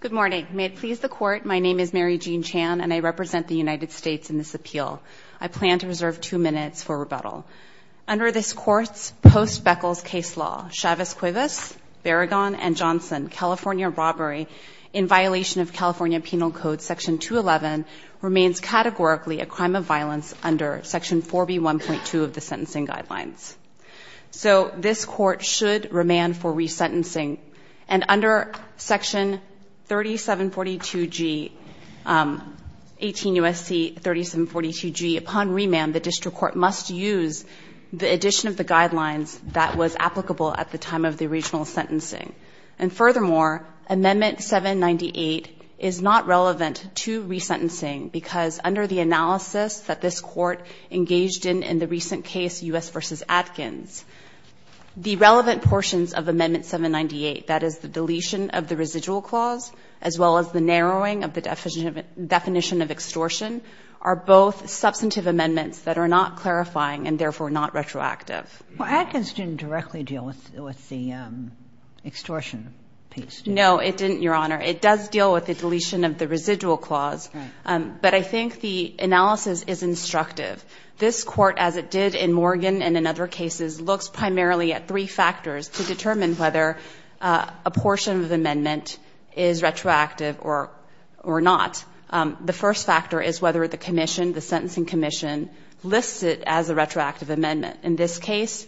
Good morning. May it please the court, my name is Mary Jean Chan and I represent the United States in this appeal. I plan to reserve two minutes for rebuttal. Under this court's post-Beckles case law, Chavez-Cuevas, Barragan, and Johnson, California robbery in violation of California penal code section 211 remains categorically a crime of violence under section 4B1.2 of the sentencing guidelines. So this court should remand for resentencing. And under section 3742G, 18 U.S.C. 3742G, upon remand, the district court must use the addition of the guidelines that was applicable at the time of the original sentencing. And furthermore, amendment 798 is not relevant to resentencing because under the analysis that this court engaged in in the recent case, U.S. versus Atkins, the relevant portions of amendment 798, that is, the deletion of the residual clause, as well as the narrowing of the definition of extortion, are both substantive amendments that are not clarifying and therefore not retroactive. Well, Atkins didn't directly deal with the extortion piece, did it? No, it didn't, Your Honor. It does deal with the deletion of the residual clause, but I think the analysis is instructive. This court, as it did in Morgan and in other cases, looks primarily at three factors to determine whether a portion of the amendment is retroactive or not. The first factor is whether the commission, the sentencing commission, lists it as a retroactive amendment. In this case,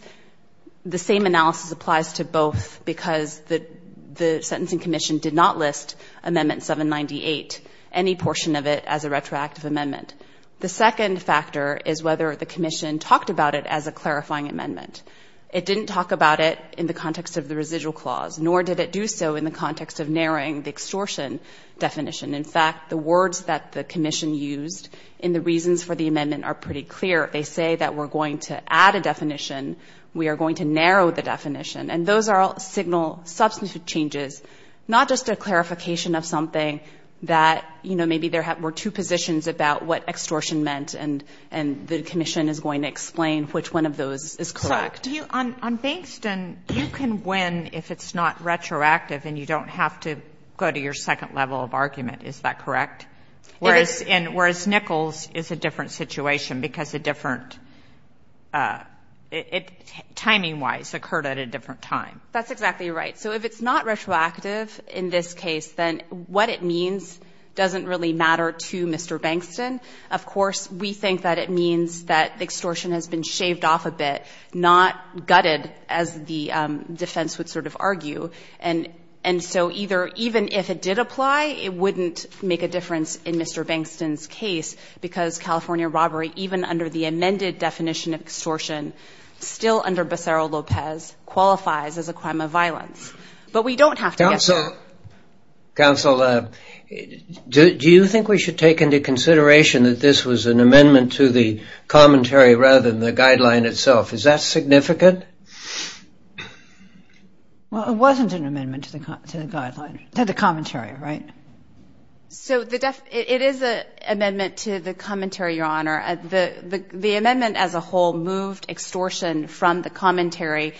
the same analysis applies to both because the sentencing commission did not list amendment 798, any portion of it, as a retroactive amendment. The second factor is whether the commission talked about it as a clarifying amendment. It didn't talk about it in the context of the residual clause, nor did it do so in the context of narrowing the extortion definition. In fact, the words that the commission used in the reasons for the amendment are pretty clear. They say that we're going to add a definition. We are going to narrow the definition. And those are all signal substantive changes, not just a clarification of something that, you know, maybe there were two positions about what extortion meant and the commission is going to explain which one of those is correct. On Bankston, you can win if it's not retroactive and you don't have to go to your second level of argument, is that correct? Whereas Nichols is a different situation because a different, timing wise, occurred at a different time. That's exactly right. So if it's not retroactive in this case, then what it means doesn't really matter to Mr. Bankston. Of course, we think that it means that extortion has been shaved off a bit, not gutted as the defense would sort of argue. And so either, even if it did apply, it wouldn't make a difference in Mr. Bankston's case because California robbery, even under the amended definition of extortion, still under Becerra-Lopez, qualifies as a crime of violence. But we don't have to guess that. Counsel, do you think we should take into consideration that this was an amendment to the commentary rather than the guideline itself? Is that significant? Well, it wasn't an amendment to the commentary, right? So it is an amendment to the commentary, Your Honor. The amendment as a whole moved extortion from the commentary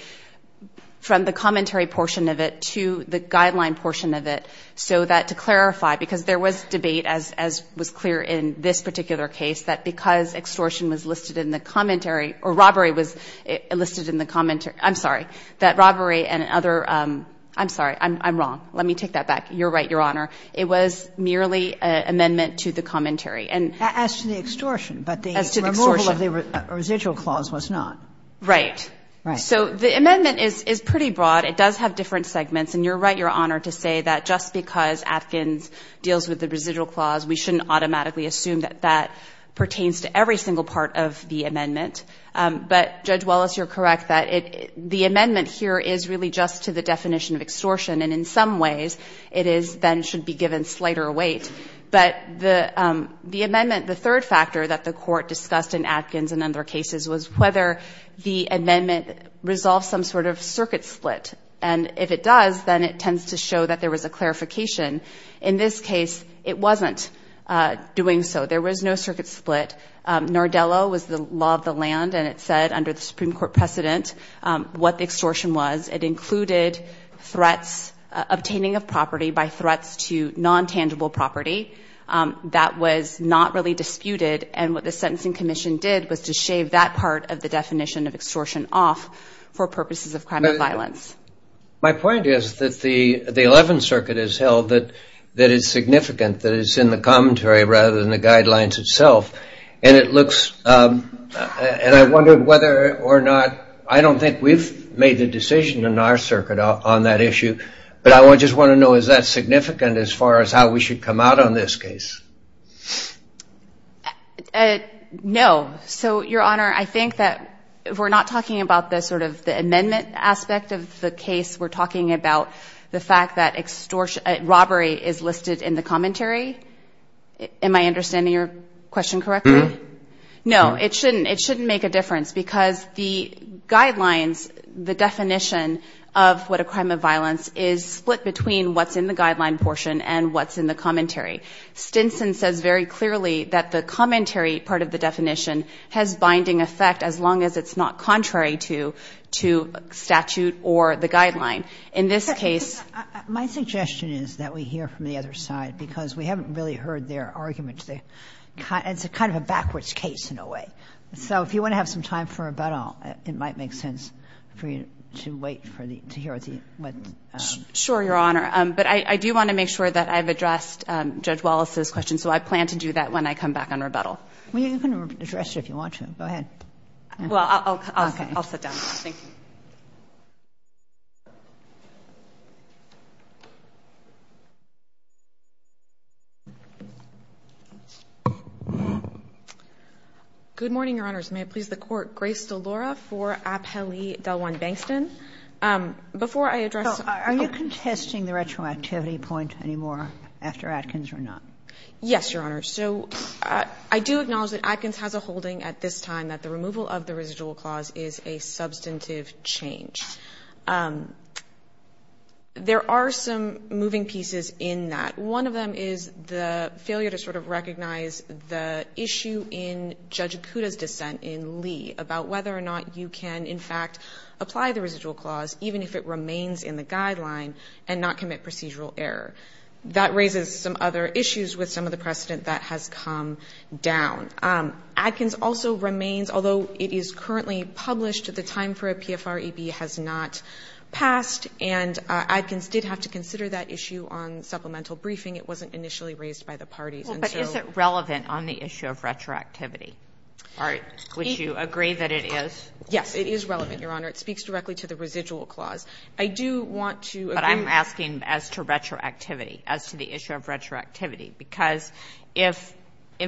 portion of it to the guideline portion of it so that to clarify, because there was debate, as was clear in this particular case, that because extortion was listed in the commentary, or robbery was listed in the commentary, I'm sorry, that robbery and other — I'm sorry, I'm wrong. Let me take that back. You're right, Your Honor. It was merely an amendment to the commentary. As to the extortion, but the removal of the residual clause was not. Right. So the amendment is pretty broad. It does have different segments. And you're right, Your Honor, to say that just because Atkins deals with the residual clause, we shouldn't automatically assume that that pertains to every single part of the amendment. But, Judge Wallace, you're correct that the amendment here is really just to the definition of extortion, and in some ways it is then should be given slighter weight. But the amendment, the third factor that the Court discussed in Atkins and other cases was whether the amendment resolves some sort of circuit split. And if it does, then it tends to show that there was a clarification. In this case, it wasn't doing so. There was no circuit split. Nardello was the law of the land, and it said under the Supreme Court precedent what the extortion was. It included threats — obtaining of property by threats to non-tangible property. That was not really disputed. And what the Sentencing Commission did was to shave that part of the definition of extortion off for purposes of crime and violence. My point is that the Eleventh Circuit has held that it's significant that it's in the commentary rather than the guidelines itself. And it looks — and I wondered whether or not — I don't think we've made the decision in our circuit on that issue. But I just want to know, is that significant as far as how we should come out on this case? No. So, Your Honor, I think that we're not talking about the sort of the amendment aspect of the case. We're talking about the fact that extortion — robbery is listed in the commentary. Am I understanding your question correctly? No, it shouldn't. It shouldn't make a difference because the guidelines — the definition of what a crime of violence is split between what's in the guideline portion and what's in the commentary. Stinson says very clearly that the commentary part of the definition has binding effect as long as it's not contrary to statute or the guideline. In this case — My suggestion is that we hear from the other side because we haven't really heard their argument. It's a kind of a backwards case in a way. So if you want to have some time for rebuttal, it might make sense for you to wait for the — to hear what — Sure, Your Honor. But I do want to make sure that I've addressed Judge Wallace's question, so I plan to do that when I come back on rebuttal. Well, you can address it if you want to. Go ahead. Well, I'll sit down. Thank you. Good morning, Your Honors. May it please the Court. Grace Delora for Appellee Delwan-Bangston. Before I address — Are you contesting the retroactivity point anymore after Atkins or not? Yes, Your Honor. So I do acknowledge that Atkins has a holding at this time that the removal of the residual clause is a substantive change. There are some moving pieces in that. One of them is the failure to sort of recognize the issue in Judge Acuda's dissent about whether or not you can, in fact, apply the residual clause even if it remains in the guideline and not commit procedural error. That raises some other issues with some of the precedent that has come down. Atkins also remains — although it is currently published, the time for a PFR-EB has not passed, and Atkins did have to consider that issue on supplemental briefing. It wasn't initially raised by the parties, and so — Well, but is it relevant on the issue of retroactivity? All right. Would you agree that it is? Yes, it is relevant, Your Honor. It speaks directly to the residual clause. I do want to agree — But I'm asking as to retroactivity, as to the issue of retroactivity. Because if —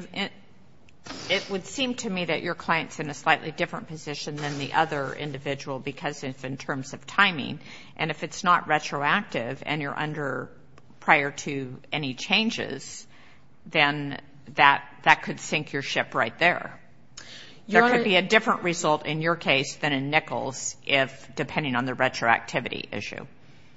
it would seem to me that your client's in a slightly different position than the other individual because in terms of timing. And if it's not retroactive and you're under — prior to any changes, then that could sink your ship right there. There could be a different result in your case than in Nichols if — depending on the retroactivity issue.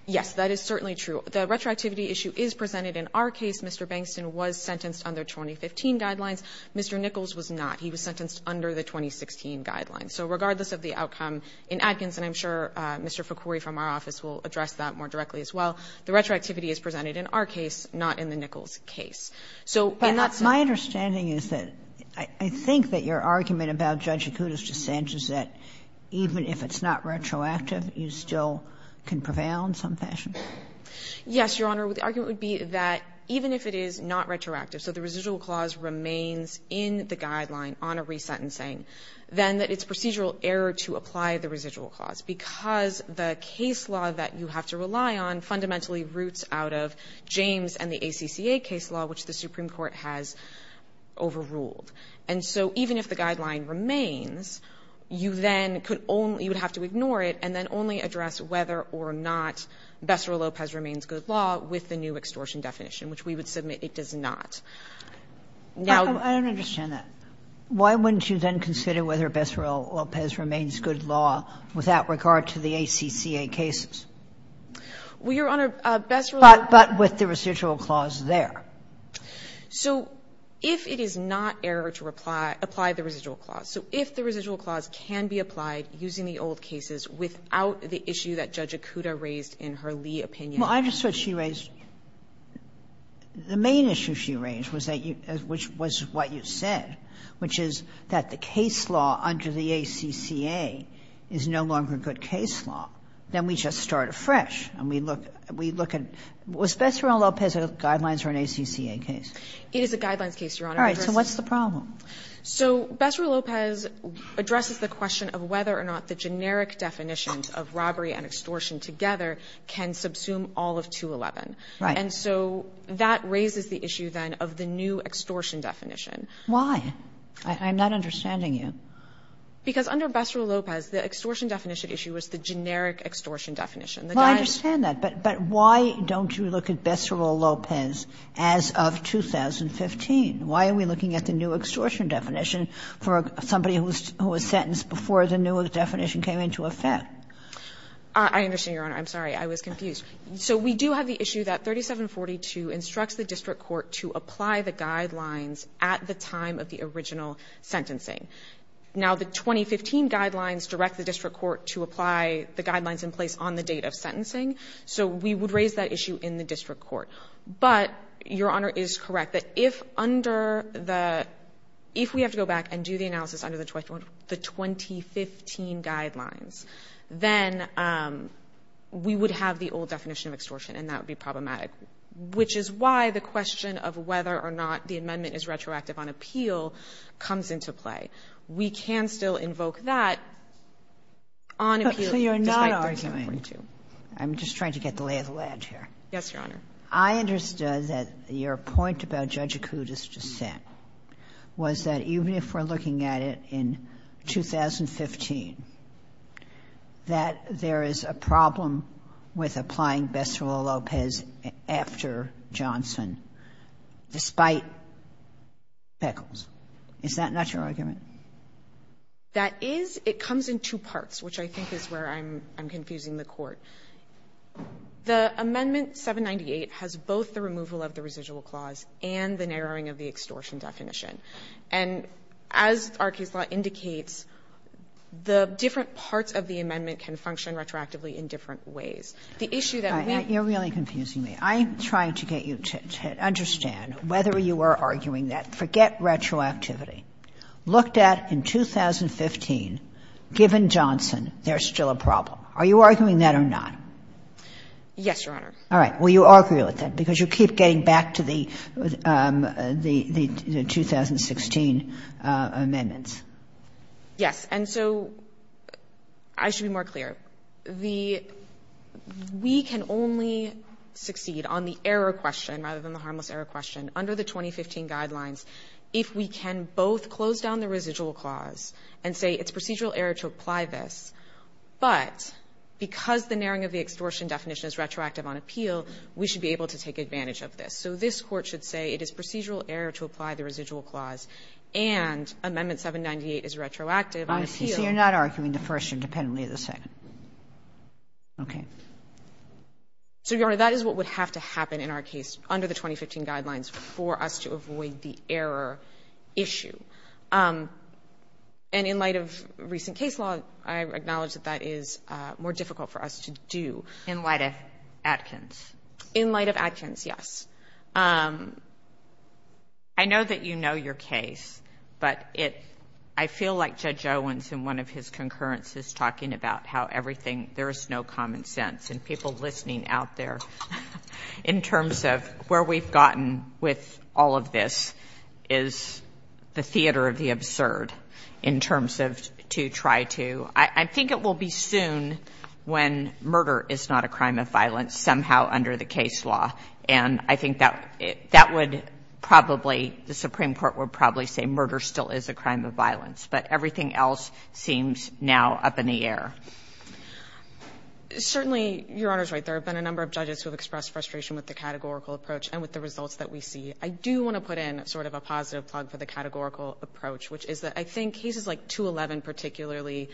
Yes, that is certainly true. The retroactivity issue is presented in our case. Mr. Bankston was sentenced under 2015 guidelines. Mr. Nichols was not. He was sentenced under the 2016 guidelines. So regardless of the outcome in Atkins — and I'm sure Mr. Foukouri from our office will address that more directly as well — the retroactivity is presented in our case, not in the Nichols case. So in that sense — But my understanding is that — I think that your argument about Judge Akuta's dissent is that even if it's not retroactive, you still can prevail in some fashion? Yes, Your Honor. The argument would be that even if it is not retroactive, so the residual clause remains in the guideline on a resentencing, then that it's procedural error to apply the residual clause. Because the case law that you have to rely on fundamentally roots out of James and the ACCA case law, which the Supreme Court has overruled. And so even if the guideline remains, you then could only — you would have to ignore it and then only address whether or not Bessara-Lopez remains good law with the new extortion definition, which we would submit it does not. Now — I don't understand that. Why wouldn't you then consider whether Bessara-Lopez remains good law without regard to the ACCA cases? Well, Your Honor, Bessara — But with the residual clause there. So if it is not error to apply the residual clause, so if the residual clause can be applied using the old cases without the issue that Judge Akuta raised in her Lee opinion — Well, I just thought she raised — the main issue she raised was that you — was what you said, which is that the case law under the ACCA is no longer good case law. Then we just start afresh and we look — we look at — was Bessara-Lopez a guidelines or an ACCA case? It is a guidelines case, Your Honor. All right. So what's the problem? So Bessara-Lopez addresses the question of whether or not the generic definitions of robbery and extortion together can subsume all of 211. Right. And so that raises the issue, then, of the new extortion definition. Why? I'm not understanding you. Because under Bessara-Lopez, the extortion definition issue was the generic extortion definition. Well, I understand that, but why don't you look at Bessara-Lopez as of 2015? Why are we looking at the new extortion definition for somebody who was sentenced before the new definition came into effect? I understand, Your Honor. I'm sorry. I was confused. So we do have the issue that 3742 instructs the district court to apply the guidelines at the time of the original sentencing. Now, the 2015 guidelines direct the district court to apply the guidelines in place on the date of sentencing. So we would raise that issue in the district court. But, Your Honor, it is correct that if under the — if we have to go back and do the definition of extortion, and that would be problematic, which is why the question of whether or not the amendment is retroactive on appeal comes into play. We can still invoke that on appeal despite 3742. But you're not arguing — I'm just trying to get the lay of the land here. Yes, Your Honor. I understood that your point about Judge Acuda's dissent was that even if we're looking at it in 2015, that there is a problem with applying Bestreau-Lopez after Johnson despite Peckels. Is that not your argument? That is — it comes in two parts, which I think is where I'm confusing the Court. The Amendment 798 has both the removal of the residual clause and the narrowing of the extortion definition. And as our case law indicates, the different parts of the amendment can function retroactively in different ways. The issue that we have— You're really confusing me. I'm trying to get you to understand whether you are arguing that. Forget retroactivity. Looked at in 2015, given Johnson, there's still a problem. Are you arguing that or not? Yes, Your Honor. All right. Well, you are agreeing with that because you keep getting back to the 2016 amendments. Yes. And so I should be more clear. The — we can only succeed on the error question rather than the harmless error question under the 2015 guidelines if we can both close down the residual clause and say it's procedural error to apply this, but because the narrowing of the extortion definition is retroactive on appeal, we should be able to take advantage of this. So this Court should say it is procedural error to apply the residual clause, and Amendment 798 is retroactive on appeal. I see. So you're not arguing the first should dependently of the second. Okay. So, Your Honor, that is what would have to happen in our case under the 2015 guidelines for us to avoid the error issue. And in light of recent case law, I acknowledge that that is more difficult for us to do. In light of Atkins? In light of Atkins, yes. I know that you know your case, but it — I feel like Judge Owens in one of his concurrences talking about how everything — there is no common sense, and people listening out there, in terms of where we've gotten with all of this, is the theater of the absurd in terms of to try to — I think it will be soon when murder is not a crime of violence somehow under the case law. And I think that would probably — the Supreme Court would probably say murder still is a crime of violence. But everything else seems now up in the air. Certainly Your Honor is right. There have been a number of judges who have expressed frustration with the categorical approach and with the results that we see. I do want to put in sort of a positive plug for the categorical approach, which is that I think cases like 211 particularly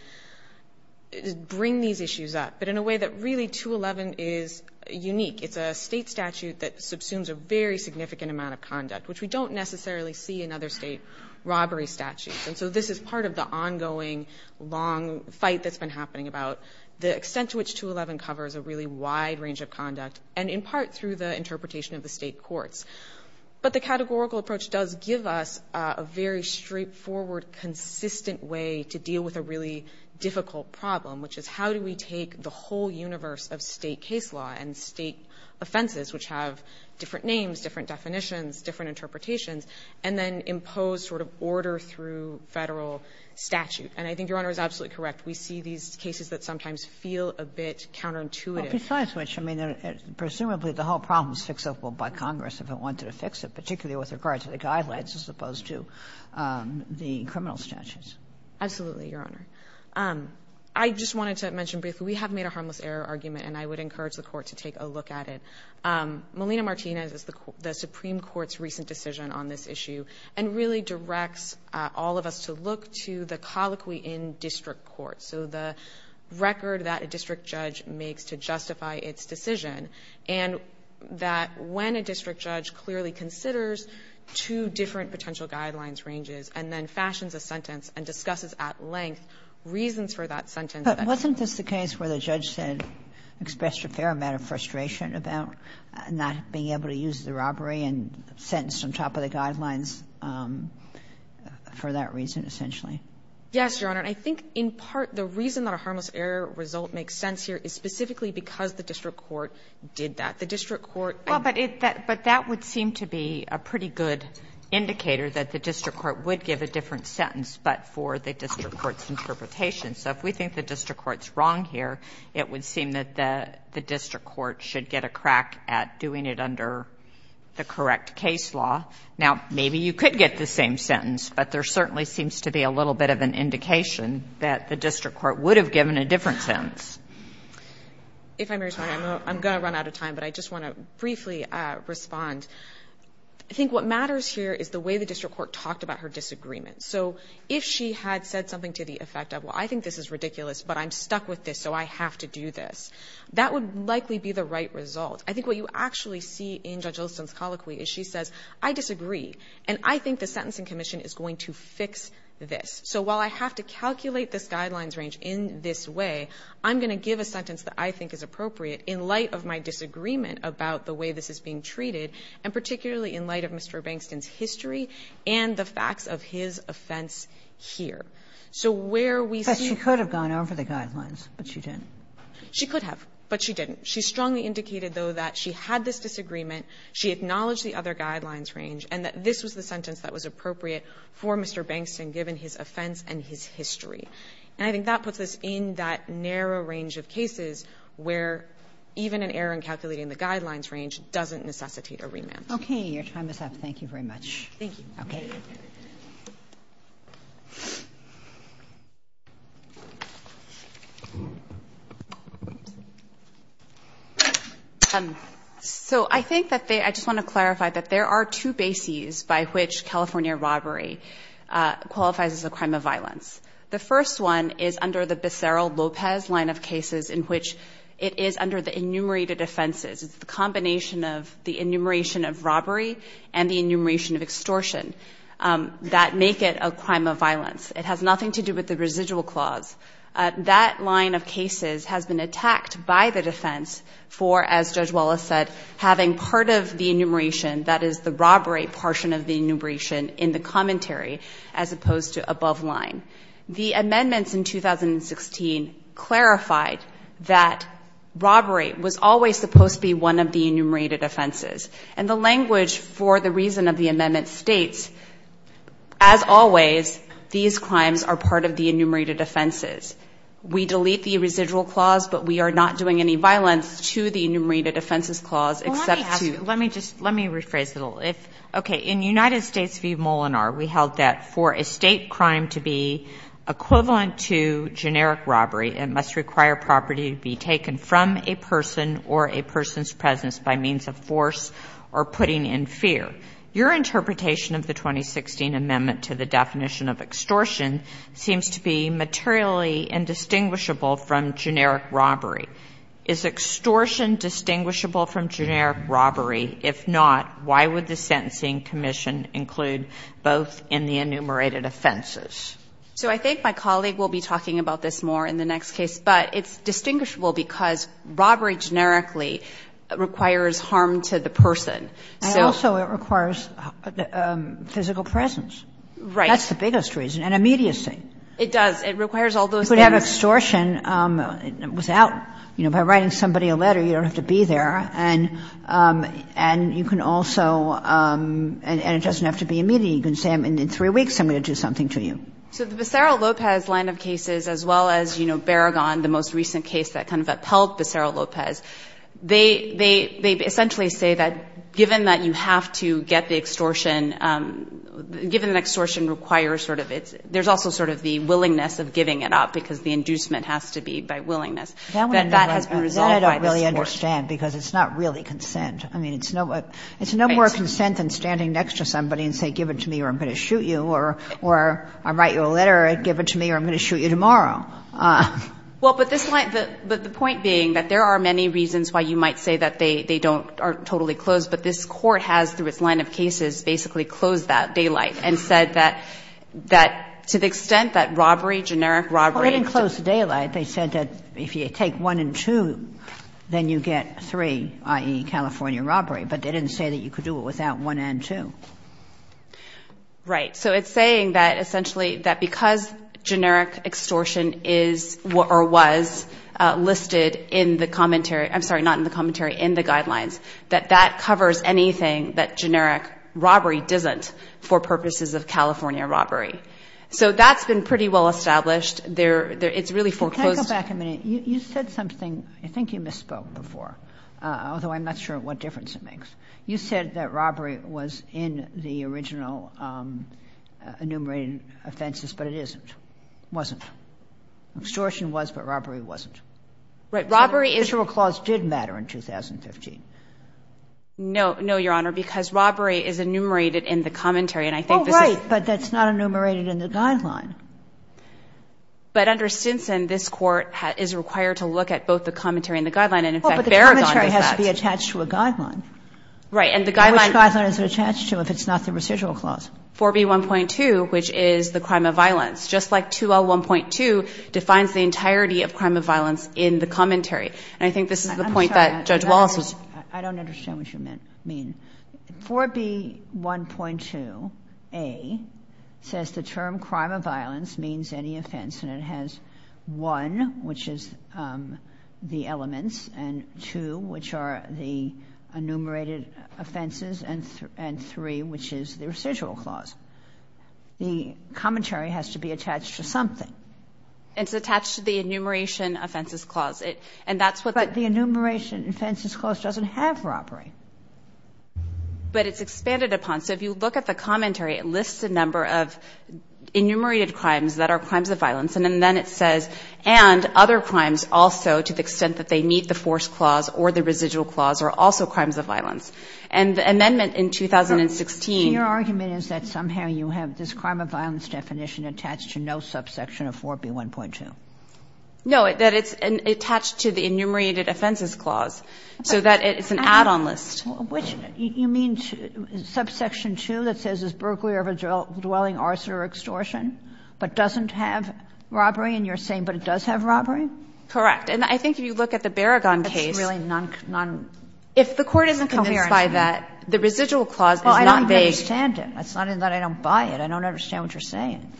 bring these issues up, but in a way that really 211 is unique. It's a state statute that subsumes a very significant amount of conduct, which we don't necessarily see in other state robbery statutes. And so this is part of the ongoing, long fight that's been happening about the extent to which 211 covers a really wide range of conduct, and in part through the interpretation of the state courts. But the categorical approach does give us a very straightforward, consistent way to how do we take the whole universe of state case law and state offenses, which have different names, different definitions, different interpretations, and then impose sort of order through Federal statute. And I think Your Honor is absolutely correct. We see these cases that sometimes feel a bit counterintuitive. Well, besides which, I mean, presumably the whole problem is fixable by Congress if it wanted to fix it, particularly with regard to the guidelines as opposed to the criminal statutes. Absolutely, Your Honor. I just wanted to mention briefly, we have made a harmless error argument, and I would encourage the Court to take a look at it. Melina Martinez is the Supreme Court's recent decision on this issue, and really directs all of us to look to the colloquy in district court. So the record that a district judge makes to justify its decision, and that when a district judge clearly considers two different potential guidelines ranges, and then fashions a sentence and discusses at length reasons for that sentence. But wasn't this the case where the judge said, expressed a fair amount of frustration about not being able to use the robbery and sentence on top of the guidelines for that reason, essentially? Yes, Your Honor. And I think in part the reason that a harmless error result makes sense here is specifically because the district court did that. The district court didn't. Well, but that would seem to be a pretty good indicator that the district court would give a different sentence, but for the district court's interpretation. So if we think the district court's wrong here, it would seem that the district court should get a crack at doing it under the correct case law. Now, maybe you could get the same sentence, but there certainly seems to be a little bit of an indication that the district court would have given a different sentence. If I may respond, I'm going to run out of time, but I just want to briefly respond. I think what matters here is the way the district court talked about her disagreement. So if she had said something to the effect of, well, I think this is ridiculous, but I'm stuck with this, so I have to do this, that would likely be the right result. I think what you actually see in Judge Olson's colloquy is she says, I disagree, and I think the sentencing commission is going to fix this. So while I have to calculate this guidelines range in this way, I'm going to give a sentence that I think is appropriate in light of my disagreement about the way this case is being treated, and particularly in light of Mr. Bankston's history and the facts of his offense here. So where we see the other guidelines range and that this was the sentence that was appropriate for Mr. Bankston given his offense and his history. And I think that puts us in that narrow range of cases where even an error in calculating the guidelines range doesn't seem to be appropriate. Doesn't necessitate a remand. Okay, your time is up. Thank you very much. Thank you. Okay. So I think that they, I just want to clarify that there are two bases by which California robbery qualifies as a crime of violence. The first one is under the Becerral Lopez line of cases in which it is under the enumerated offenses. It's the combination of the enumeration of robbery and the enumeration of extortion that make it a crime of violence. It has nothing to do with the residual clause. That line of cases has been attacked by the defense for, as Judge Wallace said, having part of the enumeration that is the robbery portion of the enumeration in the commentary as opposed to above line. The amendments in 2016 clarified that robbery was always supposed to be one of the enumerated offenses. And the language for the reason of the amendment states, as always, these crimes are part of the enumerated offenses. We delete the residual clause, but we are not doing any violence to the enumerated offenses clause except to. Let me just, let me rephrase a little. Okay, in United States v. Molinar, we held that for a state crime to be equivalent to generic robbery, it must require property to be taken from a person or a person's presence by means of force or putting in fear. Your interpretation of the 2016 amendment to the definition of extortion seems to be materially indistinguishable from generic robbery. Is extortion distinguishable from generic robbery? If not, why would the sentencing commission include both in the enumerated offenses? So I think my colleague will be talking about this more in the next case, but it's distinguishable because robbery generically requires harm to the person. So. And also it requires physical presence. Right. That's the biggest reason, and immediacy. It does. It requires all those things. You could have extortion without, you know, by writing somebody a letter, you don't have to be there. And you can also, and it doesn't have to be immediate. You can say in three weeks I'm going to do something to you. So the Becerra-Lopez line of cases, as well as, you know, Berragon, the most recent case that kind of upheld Becerra-Lopez, they essentially say that given that you have to get the extortion, given that extortion requires sort of its, there's also sort of the willingness of giving it up, because the inducement has to be by willingness, that that has been resolved by this court. And I don't understand, because it's not really consent. I mean, it's no more consent than standing next to somebody and say give it to me or I'm going to shoot you, or I write you a letter, give it to me or I'm going to shoot you tomorrow. Well, but this line, but the point being that there are many reasons why you might say that they don't, are totally closed, but this court has, through its line of cases, basically closed that daylight and said that, that to the extent that robbery, generic robbery. Well, they didn't close the daylight. They said that if you take one and two, then you get three, i.e., California robbery, but they didn't say that you could do it without one and two. Right. So it's saying that essentially, that because generic extortion is or was listed in the commentary, I'm sorry, not in the commentary, in the guidelines, that that covers anything that generic robbery doesn't for purposes of California robbery. So that's been pretty well established. It's really foreclosed. Can I go back a minute? You said something, I think you misspoke before, although I'm not sure what difference it makes. You said that robbery was in the original enumerated offenses, but it isn't, wasn't. Extortion was, but robbery wasn't. Right. Robbery is or was clause did matter in 2015. No, no, Your Honor, because robbery is enumerated in the commentary, and I think this is. Oh, right, but that's not enumerated in the guideline. But under Stinson, this Court is required to look at both the commentary and the guideline, and in fact, Barragan does that. Well, but the commentary has to be attached to a guideline. Right, and the guideline. Which guideline is it attached to if it's not the residual clause? 4B1.2, which is the crime of violence. Just like 2L1.2 defines the entirety of crime of violence in the commentary. And I think this is the point that Judge Wallace is. I'm sorry, Your Honor, I don't understand what you mean. 4B1.2A says the term crime of violence means any offense, and it has one, which is the elements, and two, which are the enumerated offenses, and three, which is the residual clause. The commentary has to be attached to something. It's attached to the enumeration offenses clause, and that's what the. But the enumeration offenses clause doesn't have robbery. But it's expanded upon. So if you look at the commentary, it lists a number of enumerated crimes that are crimes of violence, and then it says, and other crimes also to the extent that they meet the force clause or the residual clause are also crimes of violence. And the amendment in 2016. Your argument is that somehow you have this crime of violence definition attached to no subsection of 4B1.2. No, that it's attached to the enumerated offenses clause, so that it's an add-on list. You mean subsection 2 that says it's burglary of a dwelling, arson, or extortion, but doesn't have robbery, and you're saying, but it does have robbery? Correct. And I think if you look at the Baragon case. That's really non-convincing. If the Court is convinced by that, the residual clause is not based. Well, I don't understand it. It's not that I don't buy it. I don't understand what you're saying.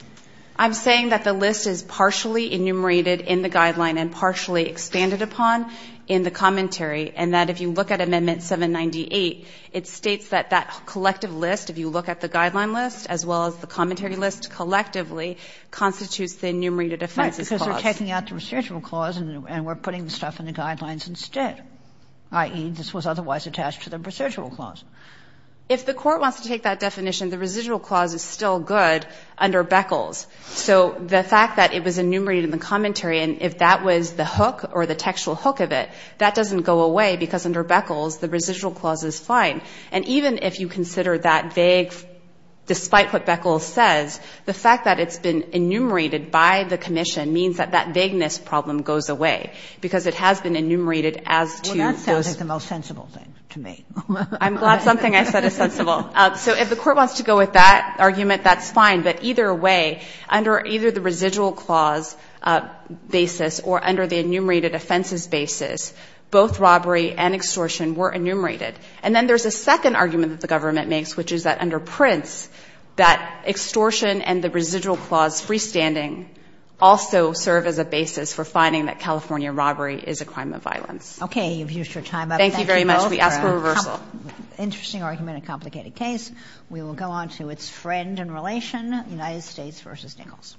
I'm saying that the list is partially enumerated in the guideline and partially expanded upon in the commentary, and that if you look at Amendment 798, it states that that collective list, if you look at the guideline list as well as the commentary list, collectively constitutes the enumerated offenses clause. No, because we're taking out the residual clause and we're putting the stuff in the guidelines instead, i.e., this was otherwise attached to the residual clause. If the Court wants to take that definition, the residual clause is still good under Beckles. So the fact that it was enumerated in the commentary, and if that was the hook or the textual hook of it, that doesn't go away, because under Beckles, the residual clause is fine. And even if you consider that vague, despite what Beckles says, the fact that it's been enumerated by the Commission means that that vagueness problem goes away, because it has been enumerated as to this. Well, that sounds like the most sensible thing to me. I'm glad something I said is sensible. So if the Court wants to go with that argument, that's fine. But either way, under either the residual clause basis or under the enumerated offenses basis, both robbery and extortion were enumerated. And then there's a second argument that the government makes, which is that under Prince, that extortion and the residual clause freestanding also serve as a basis for finding that California robbery is a crime of violence. Okay. You've used your time up. Thank you both. Thank you very much. We ask for reversal. Interesting argument, a complicated case. We will go on to its friend in relation, United States versus Nichols.